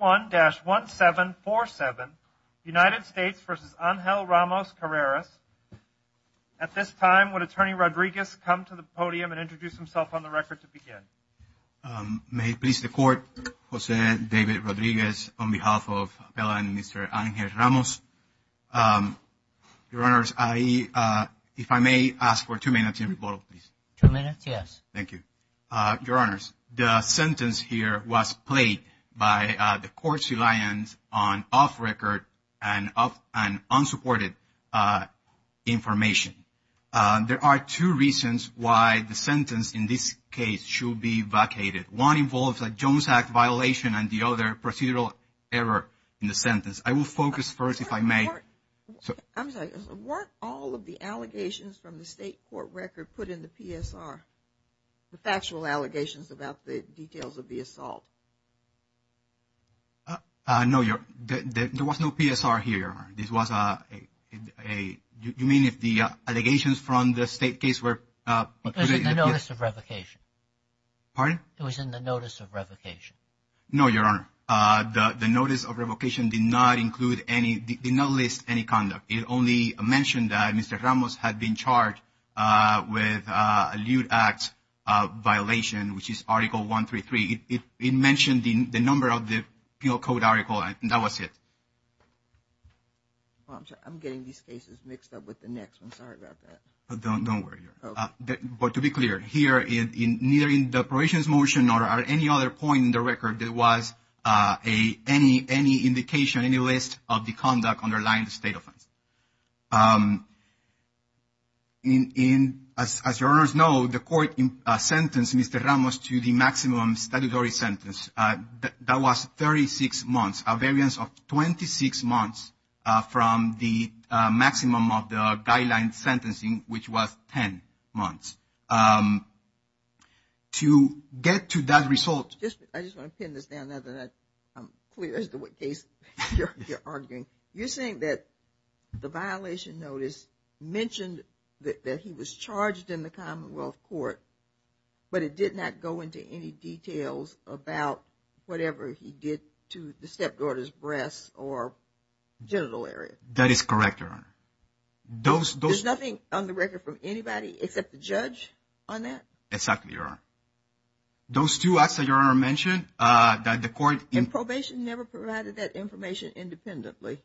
1-1747 United States v. Angel Ramos-Carreras. At this time, would Attorney Rodriguez come to the podium and introduce himself on the record to begin? May it please the Court, Jose David Rodriguez on behalf of Appellant and Mr. Angel Ramos. Your Honors, if I may ask for two minutes in rebuttal, please. Two minutes, yes. Thank you. Your Honors, the sentence here was played by the Court's reliance on off-record and unsupported information. There are two reasons why the sentence in this case should be vacated. One involves a Jones Act violation and the other procedural error in the sentence. I will focus first, if I may. Weren't all of the allegations from the State court record put in the PSR? The factual allegations about the details of the assault? No, Your Honor. There was no PSR here, Your Honor. This was a, you mean if the allegations from the State case were... It was in the notice of revocation. Pardon? It was in the notice of revocation. No, Your Honor. The notice of revocation did not include any, did not list any conduct. It only mentioned that Mr. Ramos had been charged with a lewd act violation, which is Article 133. It mentioned the number of the penal code article and that was it. I'm getting these cases mixed up with the next one. Sorry about that. Don't worry, Your Honor. But to be clear, here, neither in the probation's motion nor at any other point in the record, there was any indication, any list of the conduct underlying the state offense. As Your Honors know, the court sentenced Mr. Ramos to the maximum statutory sentence. That was 36 months, a variance of 26 months from the maximum of the guideline sentencing, which was 10 months. To get to that result... I just want to pin this down now that I'm clear as to what case you're arguing. You're saying that the violation notice mentioned that he was charged in the Commonwealth Court, but it did not go into any details about whatever he did to the stepdaughter's breasts or genital area. That is correct, Your Honor. There's nothing on the record from anybody except the judge on that? Exactly, Your Honor. Those two acts that Your Honor mentioned that the court... And probation never provided that information independently.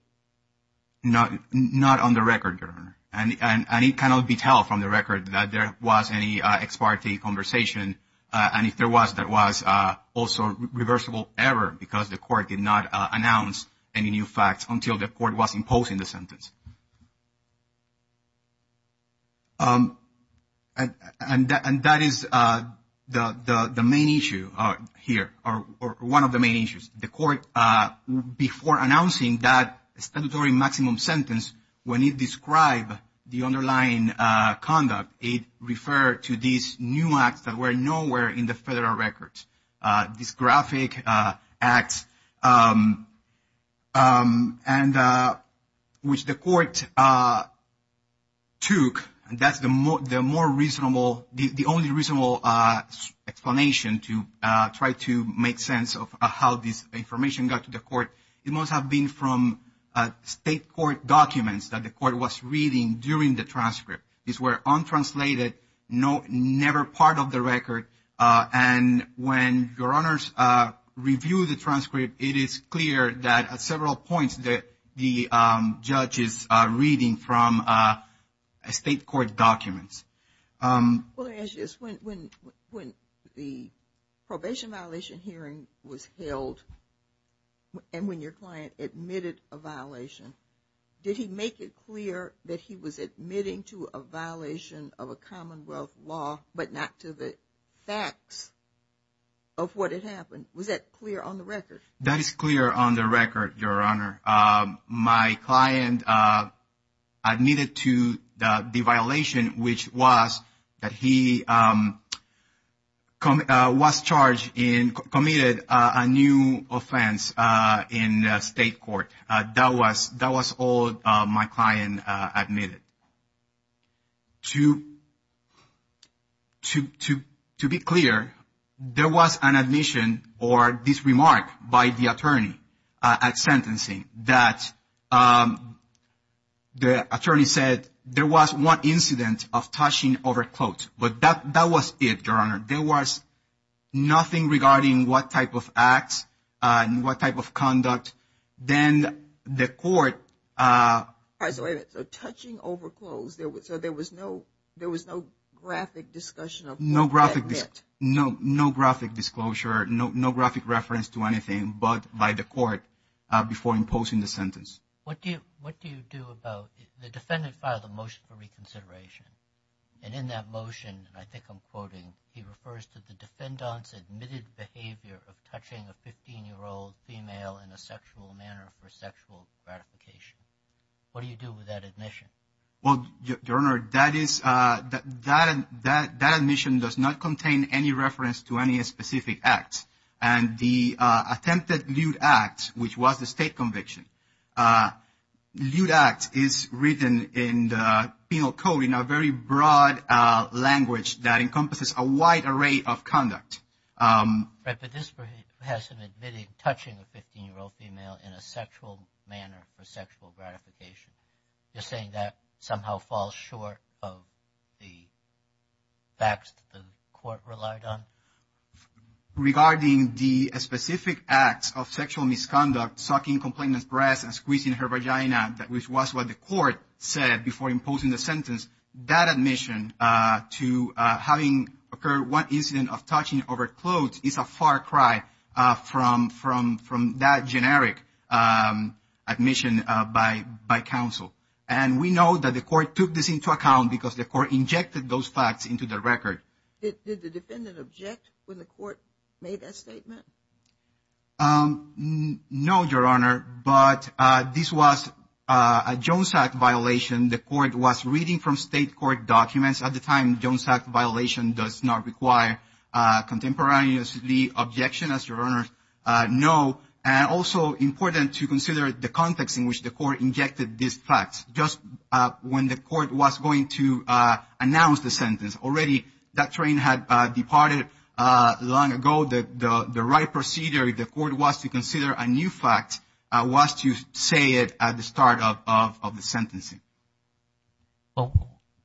Not on the record, Your Honor. And it cannot be told from the record that there was any ex parte conversation. And if there was, that was also reversible error, because the court did not announce any new facts until the court was imposing the sentence. And that is the main issue here, or one of the main issues. The court, before announcing that statutory maximum sentence, when it described the underlying conduct, it referred to these new acts that were nowhere in the federal records. This graphic act, which the court took, that's the only reasonable explanation to try to make sense of how this information got to the court. It must have been from state court documents that the court was reading during the transcript. These were untranslated, never part of the record. And when Your Honors review the transcript, it is clear that at several points that the judge is reading from state court documents. Let me ask you this. When the probation violation hearing was held, and when your client admitted a violation, did he make it clear that he was admitting to a violation of a commonwealth law, but not to the facts of what had happened? Was that clear on the record? That is clear on the record, Your Honor. My client admitted to the violation, which was that he was charged and committed a new offense in state court. That was all my client admitted. To be clear, there was an admission or this remark by the attorney at sentencing that the attorney said, there was one incident of touching over clothes, but that was it, Your Honor. There was nothing regarding what type of acts and what type of conduct. Then the court- So touching over clothes, so there was no graphic discussion of what that meant? No graphic disclosure, no graphic reference to anything but by the court before imposing the sentence. What do you do about the defendant filed a motion for reconsideration? He refers to the defendant's admitted behavior of touching a 15-year-old female in a sexual manner for sexual gratification. What do you do with that admission? Well, Your Honor, that admission does not contain any reference to any specific act. And the attempted lewd act, which was the state conviction, lewd act is written in the penal code in a very broad language that encompasses a wide array of conduct. Right, but this person admitted touching a 15-year-old female in a sexual manner for sexual gratification. You're saying that somehow falls short of the facts the court relied on? Regarding the specific acts of sexual misconduct, sucking complainant's breasts and squeezing her vagina, which was what the court said before imposing the sentence, that admission to having occurred one incident of touching over clothes is a far cry from that generic admission by counsel. And we know that the court took this into account because the court injected those facts into the record. Did the defendant object when the court made that statement? No, Your Honor, but this was a Jones Act violation. The court was reading from state court documents at the time. Jones Act violation does not require contemporaneously objection, as Your Honor knows. And also important to consider the context in which the court injected these facts. Just when the court was going to announce the sentence, already that train had departed long ago. The right procedure if the court was to consider a new fact was to say it at the start of the sentencing. Well,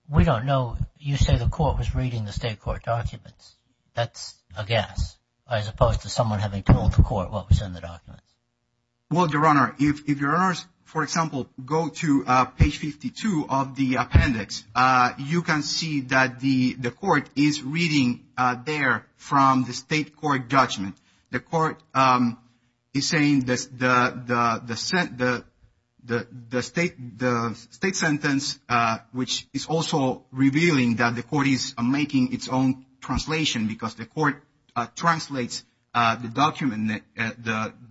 we don't know. You say the court was reading the state court documents. That's a guess as opposed to someone having told the court what was in the documents. Well, Your Honor, if Your Honors, for example, go to page 52 of the appendix, you can see that the court is reading there from the state court judgment. The court is saying the state sentence, which is also revealing that the court is making its own translation because the court translates the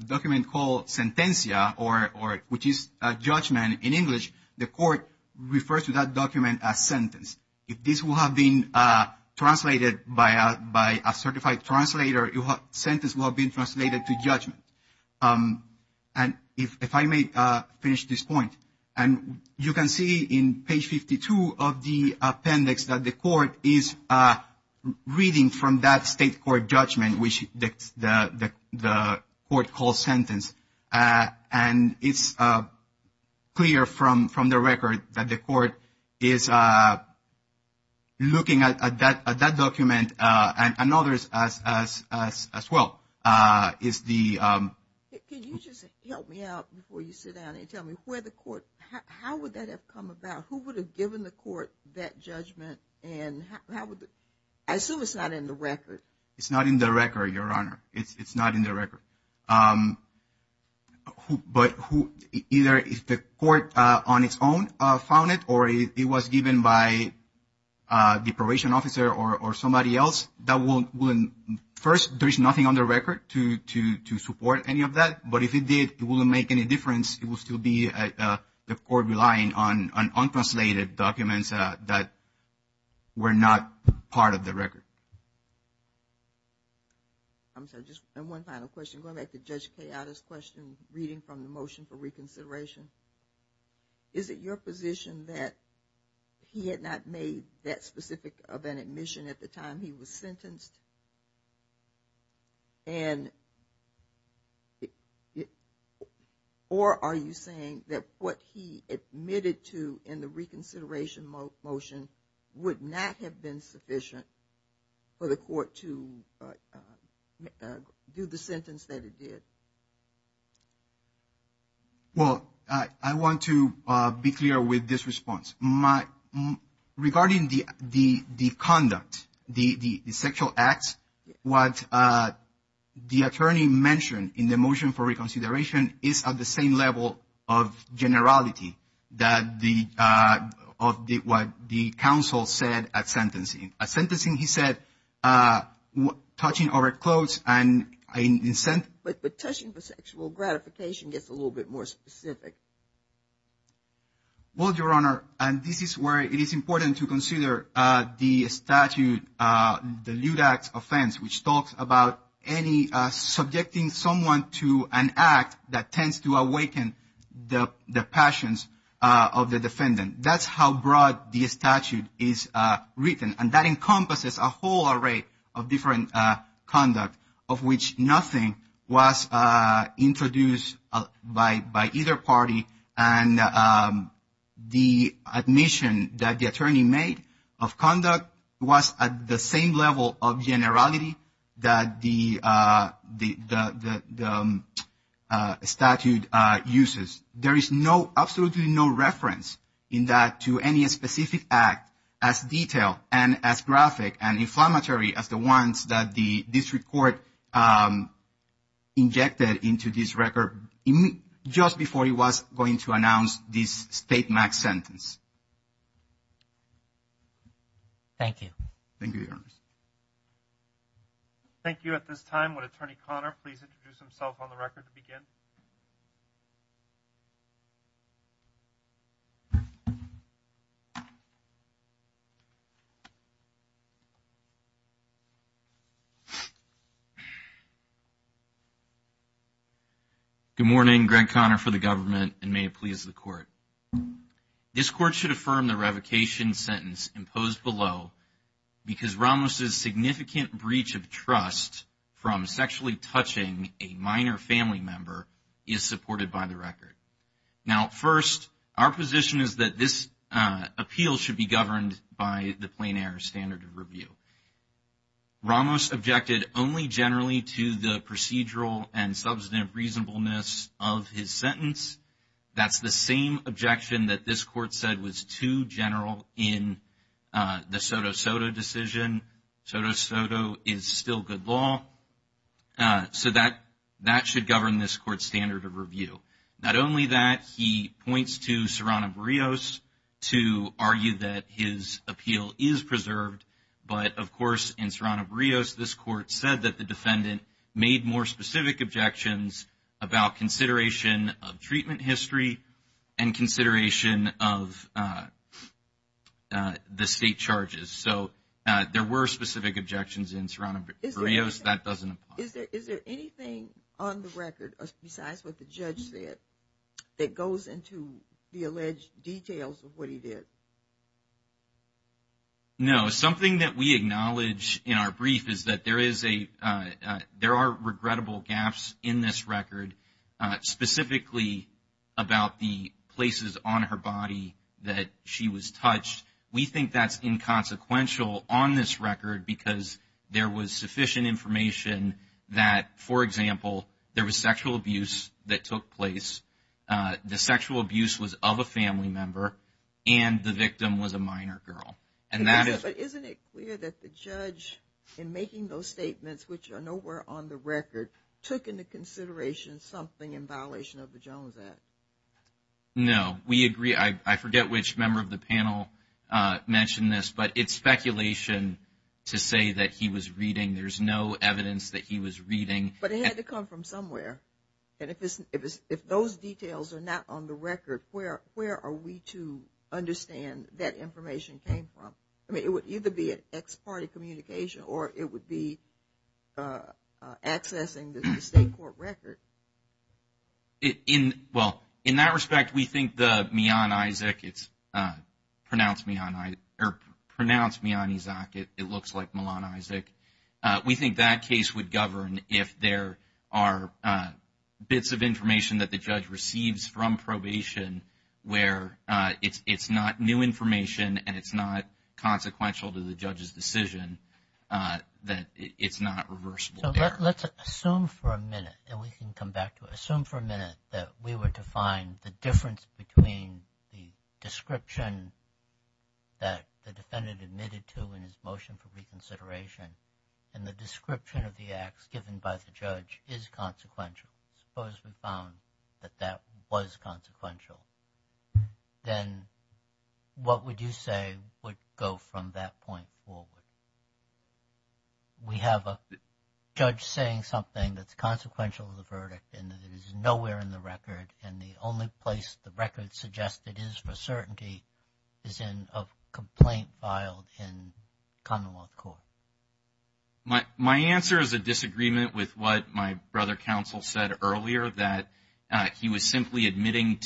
document called sentencia, which is judgment in English. The court refers to that document as sentence. If this will have been translated by a certified translator, the sentence will have been translated to judgment. And if I may finish this point, you can see in page 52 of the appendix that the court is reading from that state court judgment, which the court calls sentence. And it's clear from the record that the court is looking at that document and others as well. Can you just help me out before you sit down and tell me how would that have come about? Who would have given the court that judgment? I assume it's not in the record. It's not in the record, Your Honor. It's not in the record. But either the court on its own found it or it was given by the probation officer or somebody else. First, there is nothing on the record to support any of that. But if it did, it wouldn't make any difference. It would still be the court relying on unconsolidated documents that were not part of the record. I'm sorry, just one final question. Going back to Judge Cayatta's question, reading from the motion for reconsideration, is it your position that he had not made that specific of an admission at the time he was sentenced? Or are you saying that what he admitted to in the reconsideration motion would not have been sufficient for the court to do the sentence that it did? Well, I want to be clear with this response. Regarding the conduct, the sexual acts, what the attorney mentioned in the motion for reconsideration is at the same level of generality of what the counsel said at sentencing. At sentencing, he said, touching over clothes and consent. But touching for sexual gratification gets a little bit more specific. Well, Your Honor, this is where it is important to consider the statute, the LUDAC offense, which talks about subjecting someone to an act that tends to awaken the passions of the defendant. That's how broad the statute is written. And that encompasses a whole array of different conduct of which nothing was introduced by either party. And the admission that the attorney made of conduct was at the same level of generality that the statute uses. There is absolutely no reference in that to any specific act as detailed and as graphic and inflammatory as the ones that the district court injected into this record just before he was going to announce this state max sentence. Thank you. Thank you, Your Honor. Thank you. At this time, would Attorney Conner please introduce himself on the record to begin? Good morning. Greg Conner for the government and may it please the court. This court should affirm the revocation sentence imposed below because Ramos' significant breach of trust from sexually touching a minor family member is supported by the record. Now, first, our position is that this appeal should be governed by the plain error standard of review. Ramos objected only generally to the procedural and substantive reasonableness of his sentence. That's the same objection that this court said was too general in the Soto-Soto decision. Soto-Soto is still good law. So that should govern this court's standard of review. Not only that, he points to Serrano-Brios to argue that his appeal is preserved. But, of course, in Serrano-Brios, this court said that the defendant made more specific objections about consideration of treatment history and consideration of the state charges. So there were specific objections in Serrano-Brios. That doesn't apply. Is there anything on the record besides what the judge said that goes into the alleged details of what he did? No. Something that we acknowledge in our brief is that there are regrettable gaps in this record, specifically about the places on her body that she was touched. We think that's inconsequential on this record because there was sufficient information that, for example, there was sexual abuse that took place. The sexual abuse was of a family member, and the victim was a minor girl. Isn't it clear that the judge, in making those statements, which are nowhere on the record, took into consideration something in violation of the Jones Act? No. We agree. I forget which member of the panel mentioned this, but it's speculation to say that he was reading. There's no evidence that he was reading. But it had to come from somewhere. And if those details are not on the record, where are we to understand that information came from? I mean, it would either be an ex parte communication or it would be accessing the state court record. Well, in that respect, we think the Mian Isaac, it's pronounced Mian Isaac. It looks like Milan Isaac. We think that case would govern if there are bits of information that the judge receives from probation where it's not new information and it's not consequential to the judge's decision, that it's not reversible there. So let's assume for a minute, and we can come back to it, assume for a minute that we were to find the difference between the description that the defendant admitted to in his motion for reconsideration and the description of the acts given by the judge is consequential. Suppose we found that that was consequential. Then what would you say would go from that point forward? We have a judge saying something that's consequential to the verdict and that it is nowhere in the record and the only place the record suggests it is for certainty is in a complaint filed in commonwealth court. My answer is a disagreement with what my brother counsel said earlier, that he was simply admitting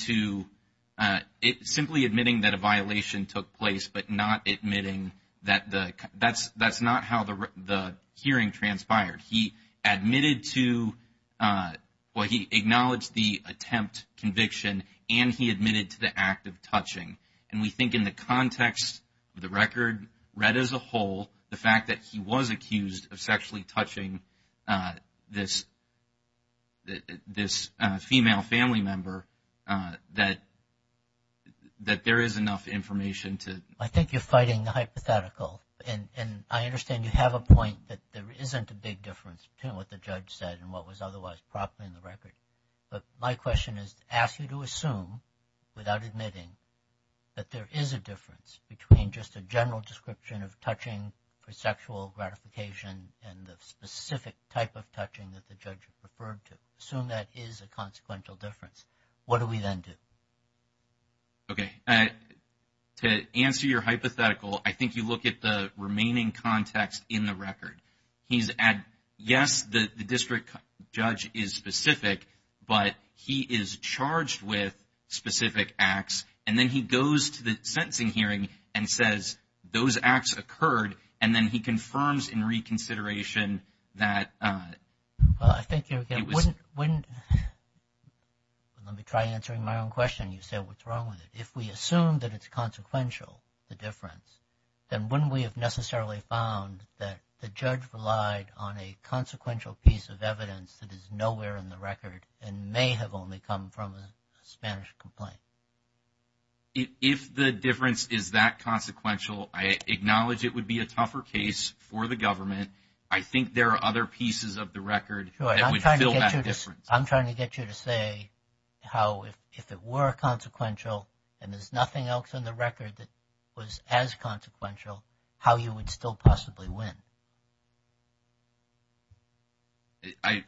that a violation took place, but not admitting that that's not how the hearing transpired. He admitted to, well, he acknowledged the attempt conviction and he admitted to the act of touching. And we think in the context of the record read as a whole, the fact that he was accused of sexually touching this female family member, that there is enough information to. I think you're fighting the hypothetical and I understand you have a point that there isn't a big difference between what the judge said and what was otherwise properly in the record. But my question is to ask you to assume without admitting that there is a difference between just a general description of touching for sexual gratification and the specific type of touching that the judge referred to. Assume that is a consequential difference. What do we then do? Okay. To answer your hypothetical, I think you look at the remaining context in the record. He's at, yes, the district judge is specific, but he is charged with specific acts. And then he goes to the sentencing hearing and says those acts occurred. And then he confirms in reconsideration that. Well, I think you wouldn't. Let me try answering my own question. You said what's wrong with it. If we assume that it's consequential, the difference, then when we have necessarily found that the judge relied on a consequential piece of evidence that is nowhere in the record and may have only come from a Spanish complaint. If the difference is that consequential, I acknowledge it would be a tougher case for the government. I think there are other pieces of the record that would fill that difference. I'm trying to get you to say how if it were consequential and there's nothing else in the record that was as consequential, how you would still possibly win.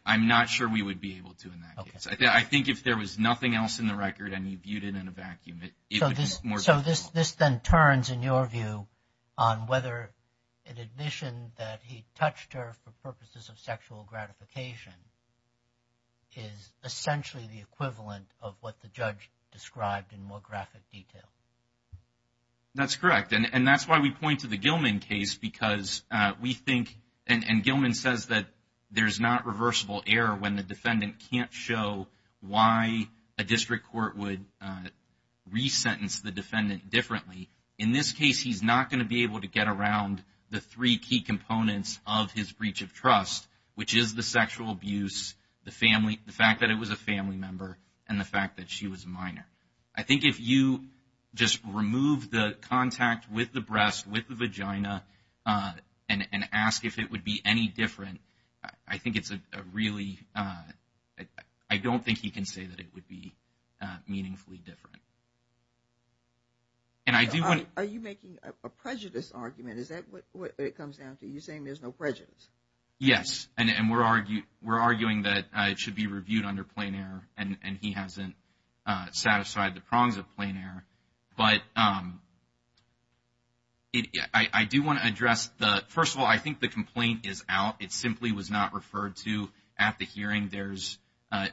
I'm not sure we would be able to in that case. I think if there was nothing else in the record and you viewed it in a vacuum, it would be more difficult. So this then turns, in your view, on whether an admission that he touched her for purposes of sexual gratification is essentially the equivalent of what the judge described in more graphic detail. That's correct. And that's why we point to the Gilman case because we think, and Gilman says that there's not reversible error when the defendant can't show why a district court would resentence the defendant differently. In this case, he's not going to be able to get around the three key components of his breach of trust, which is the sexual abuse, the fact that it was a family member, and the fact that she was a minor. I think if you just remove the contact with the breast, with the vagina, and ask if it would be any different, I think it's a really, I don't think he can say that it would be meaningfully different. Are you making a prejudice argument? Is that what it comes down to? You're saying there's no prejudice? Yes, and we're arguing that it should be reviewed under plain error, and he hasn't satisfied the prongs of plain error. But I do want to address the, first of all, I think the complaint is out. It simply was not referred to at the hearing. There's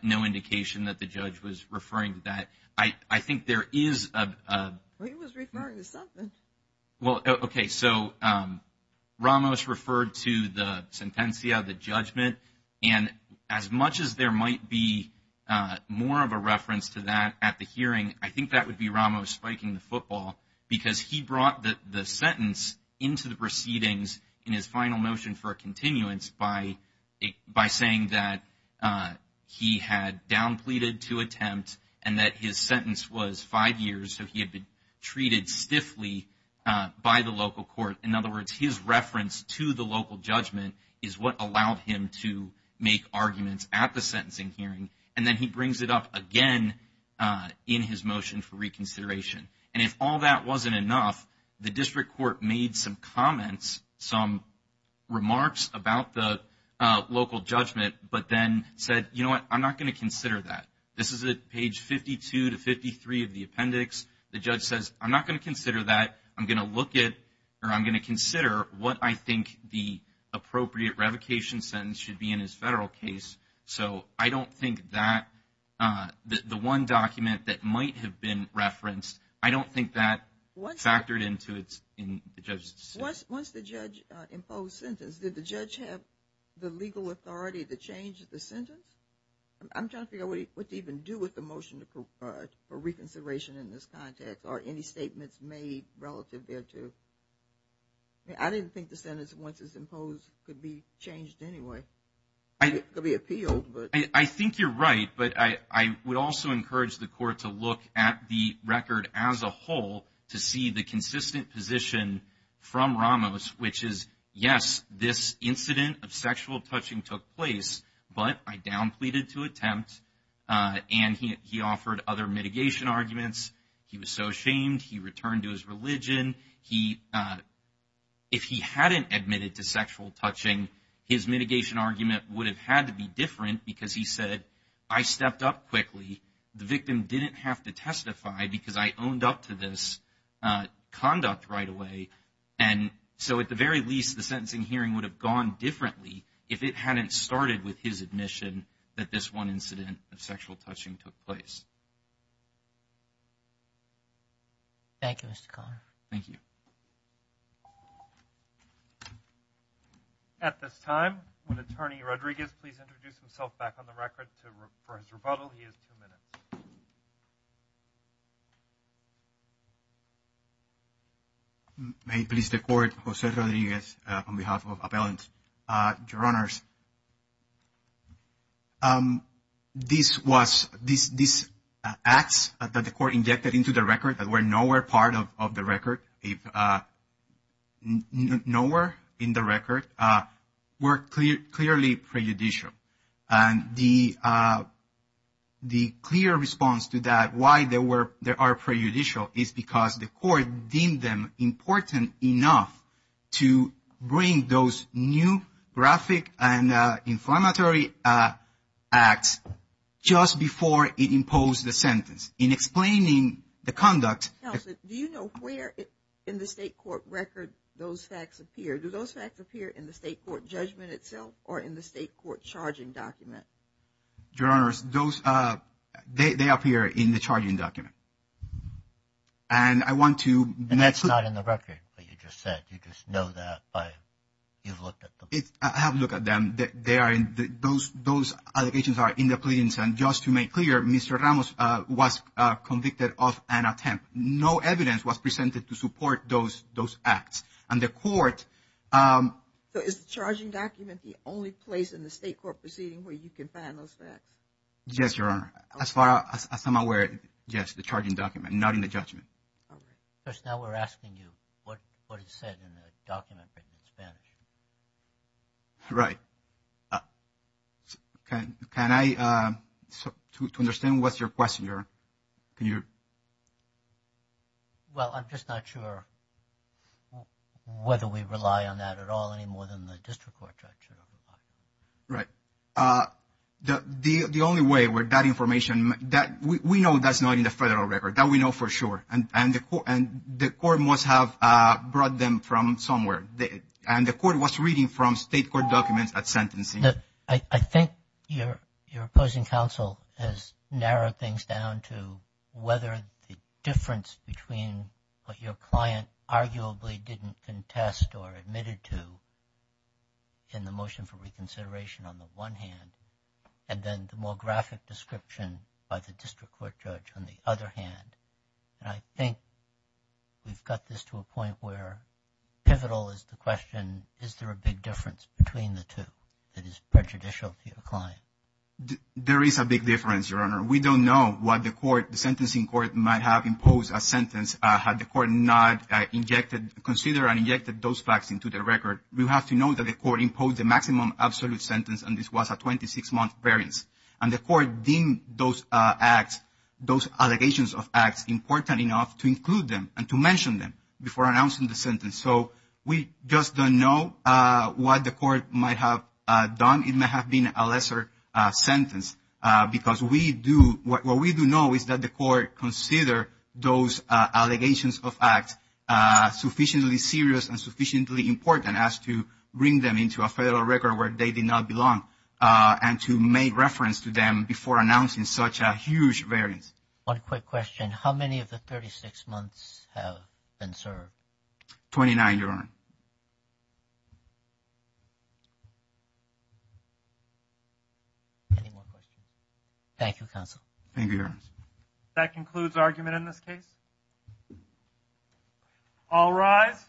no indication that the judge was referring to that. I think there is a- Well, he was referring to something. Well, okay, so Ramos referred to the sentencia, the judgment. And as much as there might be more of a reference to that at the hearing, I think that would be Ramos spiking the football because he brought the sentence into the proceedings in his final motion for a continuance by saying that he had down pleaded to attempt and that his sentence was five years, so he had been treated stiffly by the local court. In other words, his reference to the local judgment is what allowed him to make arguments at the sentencing hearing. And then he brings it up again in his motion for reconsideration. And if all that wasn't enough, the district court made some comments, some remarks about the local judgment, but then said, you know what, I'm not going to consider that. This is at page 52 to 53 of the appendix. The judge says, I'm not going to consider that. I'm going to look at or I'm going to consider what I think the appropriate revocation sentence should be in his federal case. So I don't think that the one document that might have been referenced, I don't think that factored into the judge's decision. Once the judge imposed sentence, did the judge have the legal authority to change the sentence? I'm trying to figure out what to even do with the motion for reconsideration in this context or any statements made relative thereto. I didn't think the sentence, once it's imposed, could be changed anyway. It could be appealed. I think you're right, but I would also encourage the court to look at the record as a whole to see the consistent position from Ramos, which is, yes, this incident of sexual touching took place, but I down pleaded to attempt. And he offered other mitigation arguments. If he hadn't admitted to sexual touching, his mitigation argument would have had to be different because he said, I stepped up quickly. The victim didn't have to testify because I owned up to this conduct right away. And so at the very least, the sentencing hearing would have gone differently if it hadn't started with his admission that this one incident of sexual touching took place. Thank you, Mr. Conner. Thank you. At this time, would Attorney Rodriguez please introduce himself back on the record for his rebuttal? He has two minutes. May it please the court, Jose Rodriguez on behalf of Appellant. Your Honors, these acts that the court injected into the record that were nowhere part of the record, if nowhere in the record, were clearly prejudicial. And the clear response to that, why they are prejudicial, is because the court deemed them important enough to bring those new graphic and inflammatory acts just before it imposed the sentence in explaining the conduct. Counsel, do you know where in the state court record those facts appear? Do those facts appear in the state court judgment itself or in the state court charging document? Your Honors, those, they appear in the charging document. And I want to- And that's not in the record that you just said. You just know that by, you've looked at them. I have looked at them. They are in, those allegations are in the pleadings. And just to make clear, Mr. Ramos was convicted of an attempt. No evidence was presented to support those acts. And the court- So is the charging document the only place in the state court proceeding where you can find those facts? Yes, Your Honor. As far as I'm aware, yes, the charging document, not in the judgment. Okay. Because now we're asking you what is said in the document written in Spanish. Right. Can I, to understand what's your question, Your Honor, can you- Well, I'm just not sure whether we rely on that at all any more than the district court judge should. Right. The only way where that information, we know that's not in the federal record. That we know for sure. And the court must have brought them from somewhere. And the court was reading from state court documents at sentencing. I think your opposing counsel has narrowed things down to whether the difference between what your client arguably didn't contest or admitted to in the motion for reconsideration on the one hand, and then the more graphic description by the district court judge on the other hand. And I think we've got this to a point where pivotal is the question, is there a big difference between the two that is prejudicial to your client? There is a big difference, Your Honor. We don't know what the court, the sentencing court might have imposed a sentence had the court not injected, considered and injected those facts into the record. We have to know that the court imposed the maximum absolute sentence, and this was a 26-month variance. And the court deemed those acts, those allegations of acts important enough to include them and to mention them before announcing the sentence. So we just don't know what the court might have done. It may have been a lesser sentence because we do, what we do know is that the court considered those allegations of acts sufficiently serious and sufficiently important as to bring them into a federal record where they did not belong. And to make reference to them before announcing such a huge variance. One quick question, how many of the 36 months have been served? Twenty-nine, Your Honor. Any more questions? Thank you, Counsel. Thank you, Your Honor. That concludes argument in this case. All rise.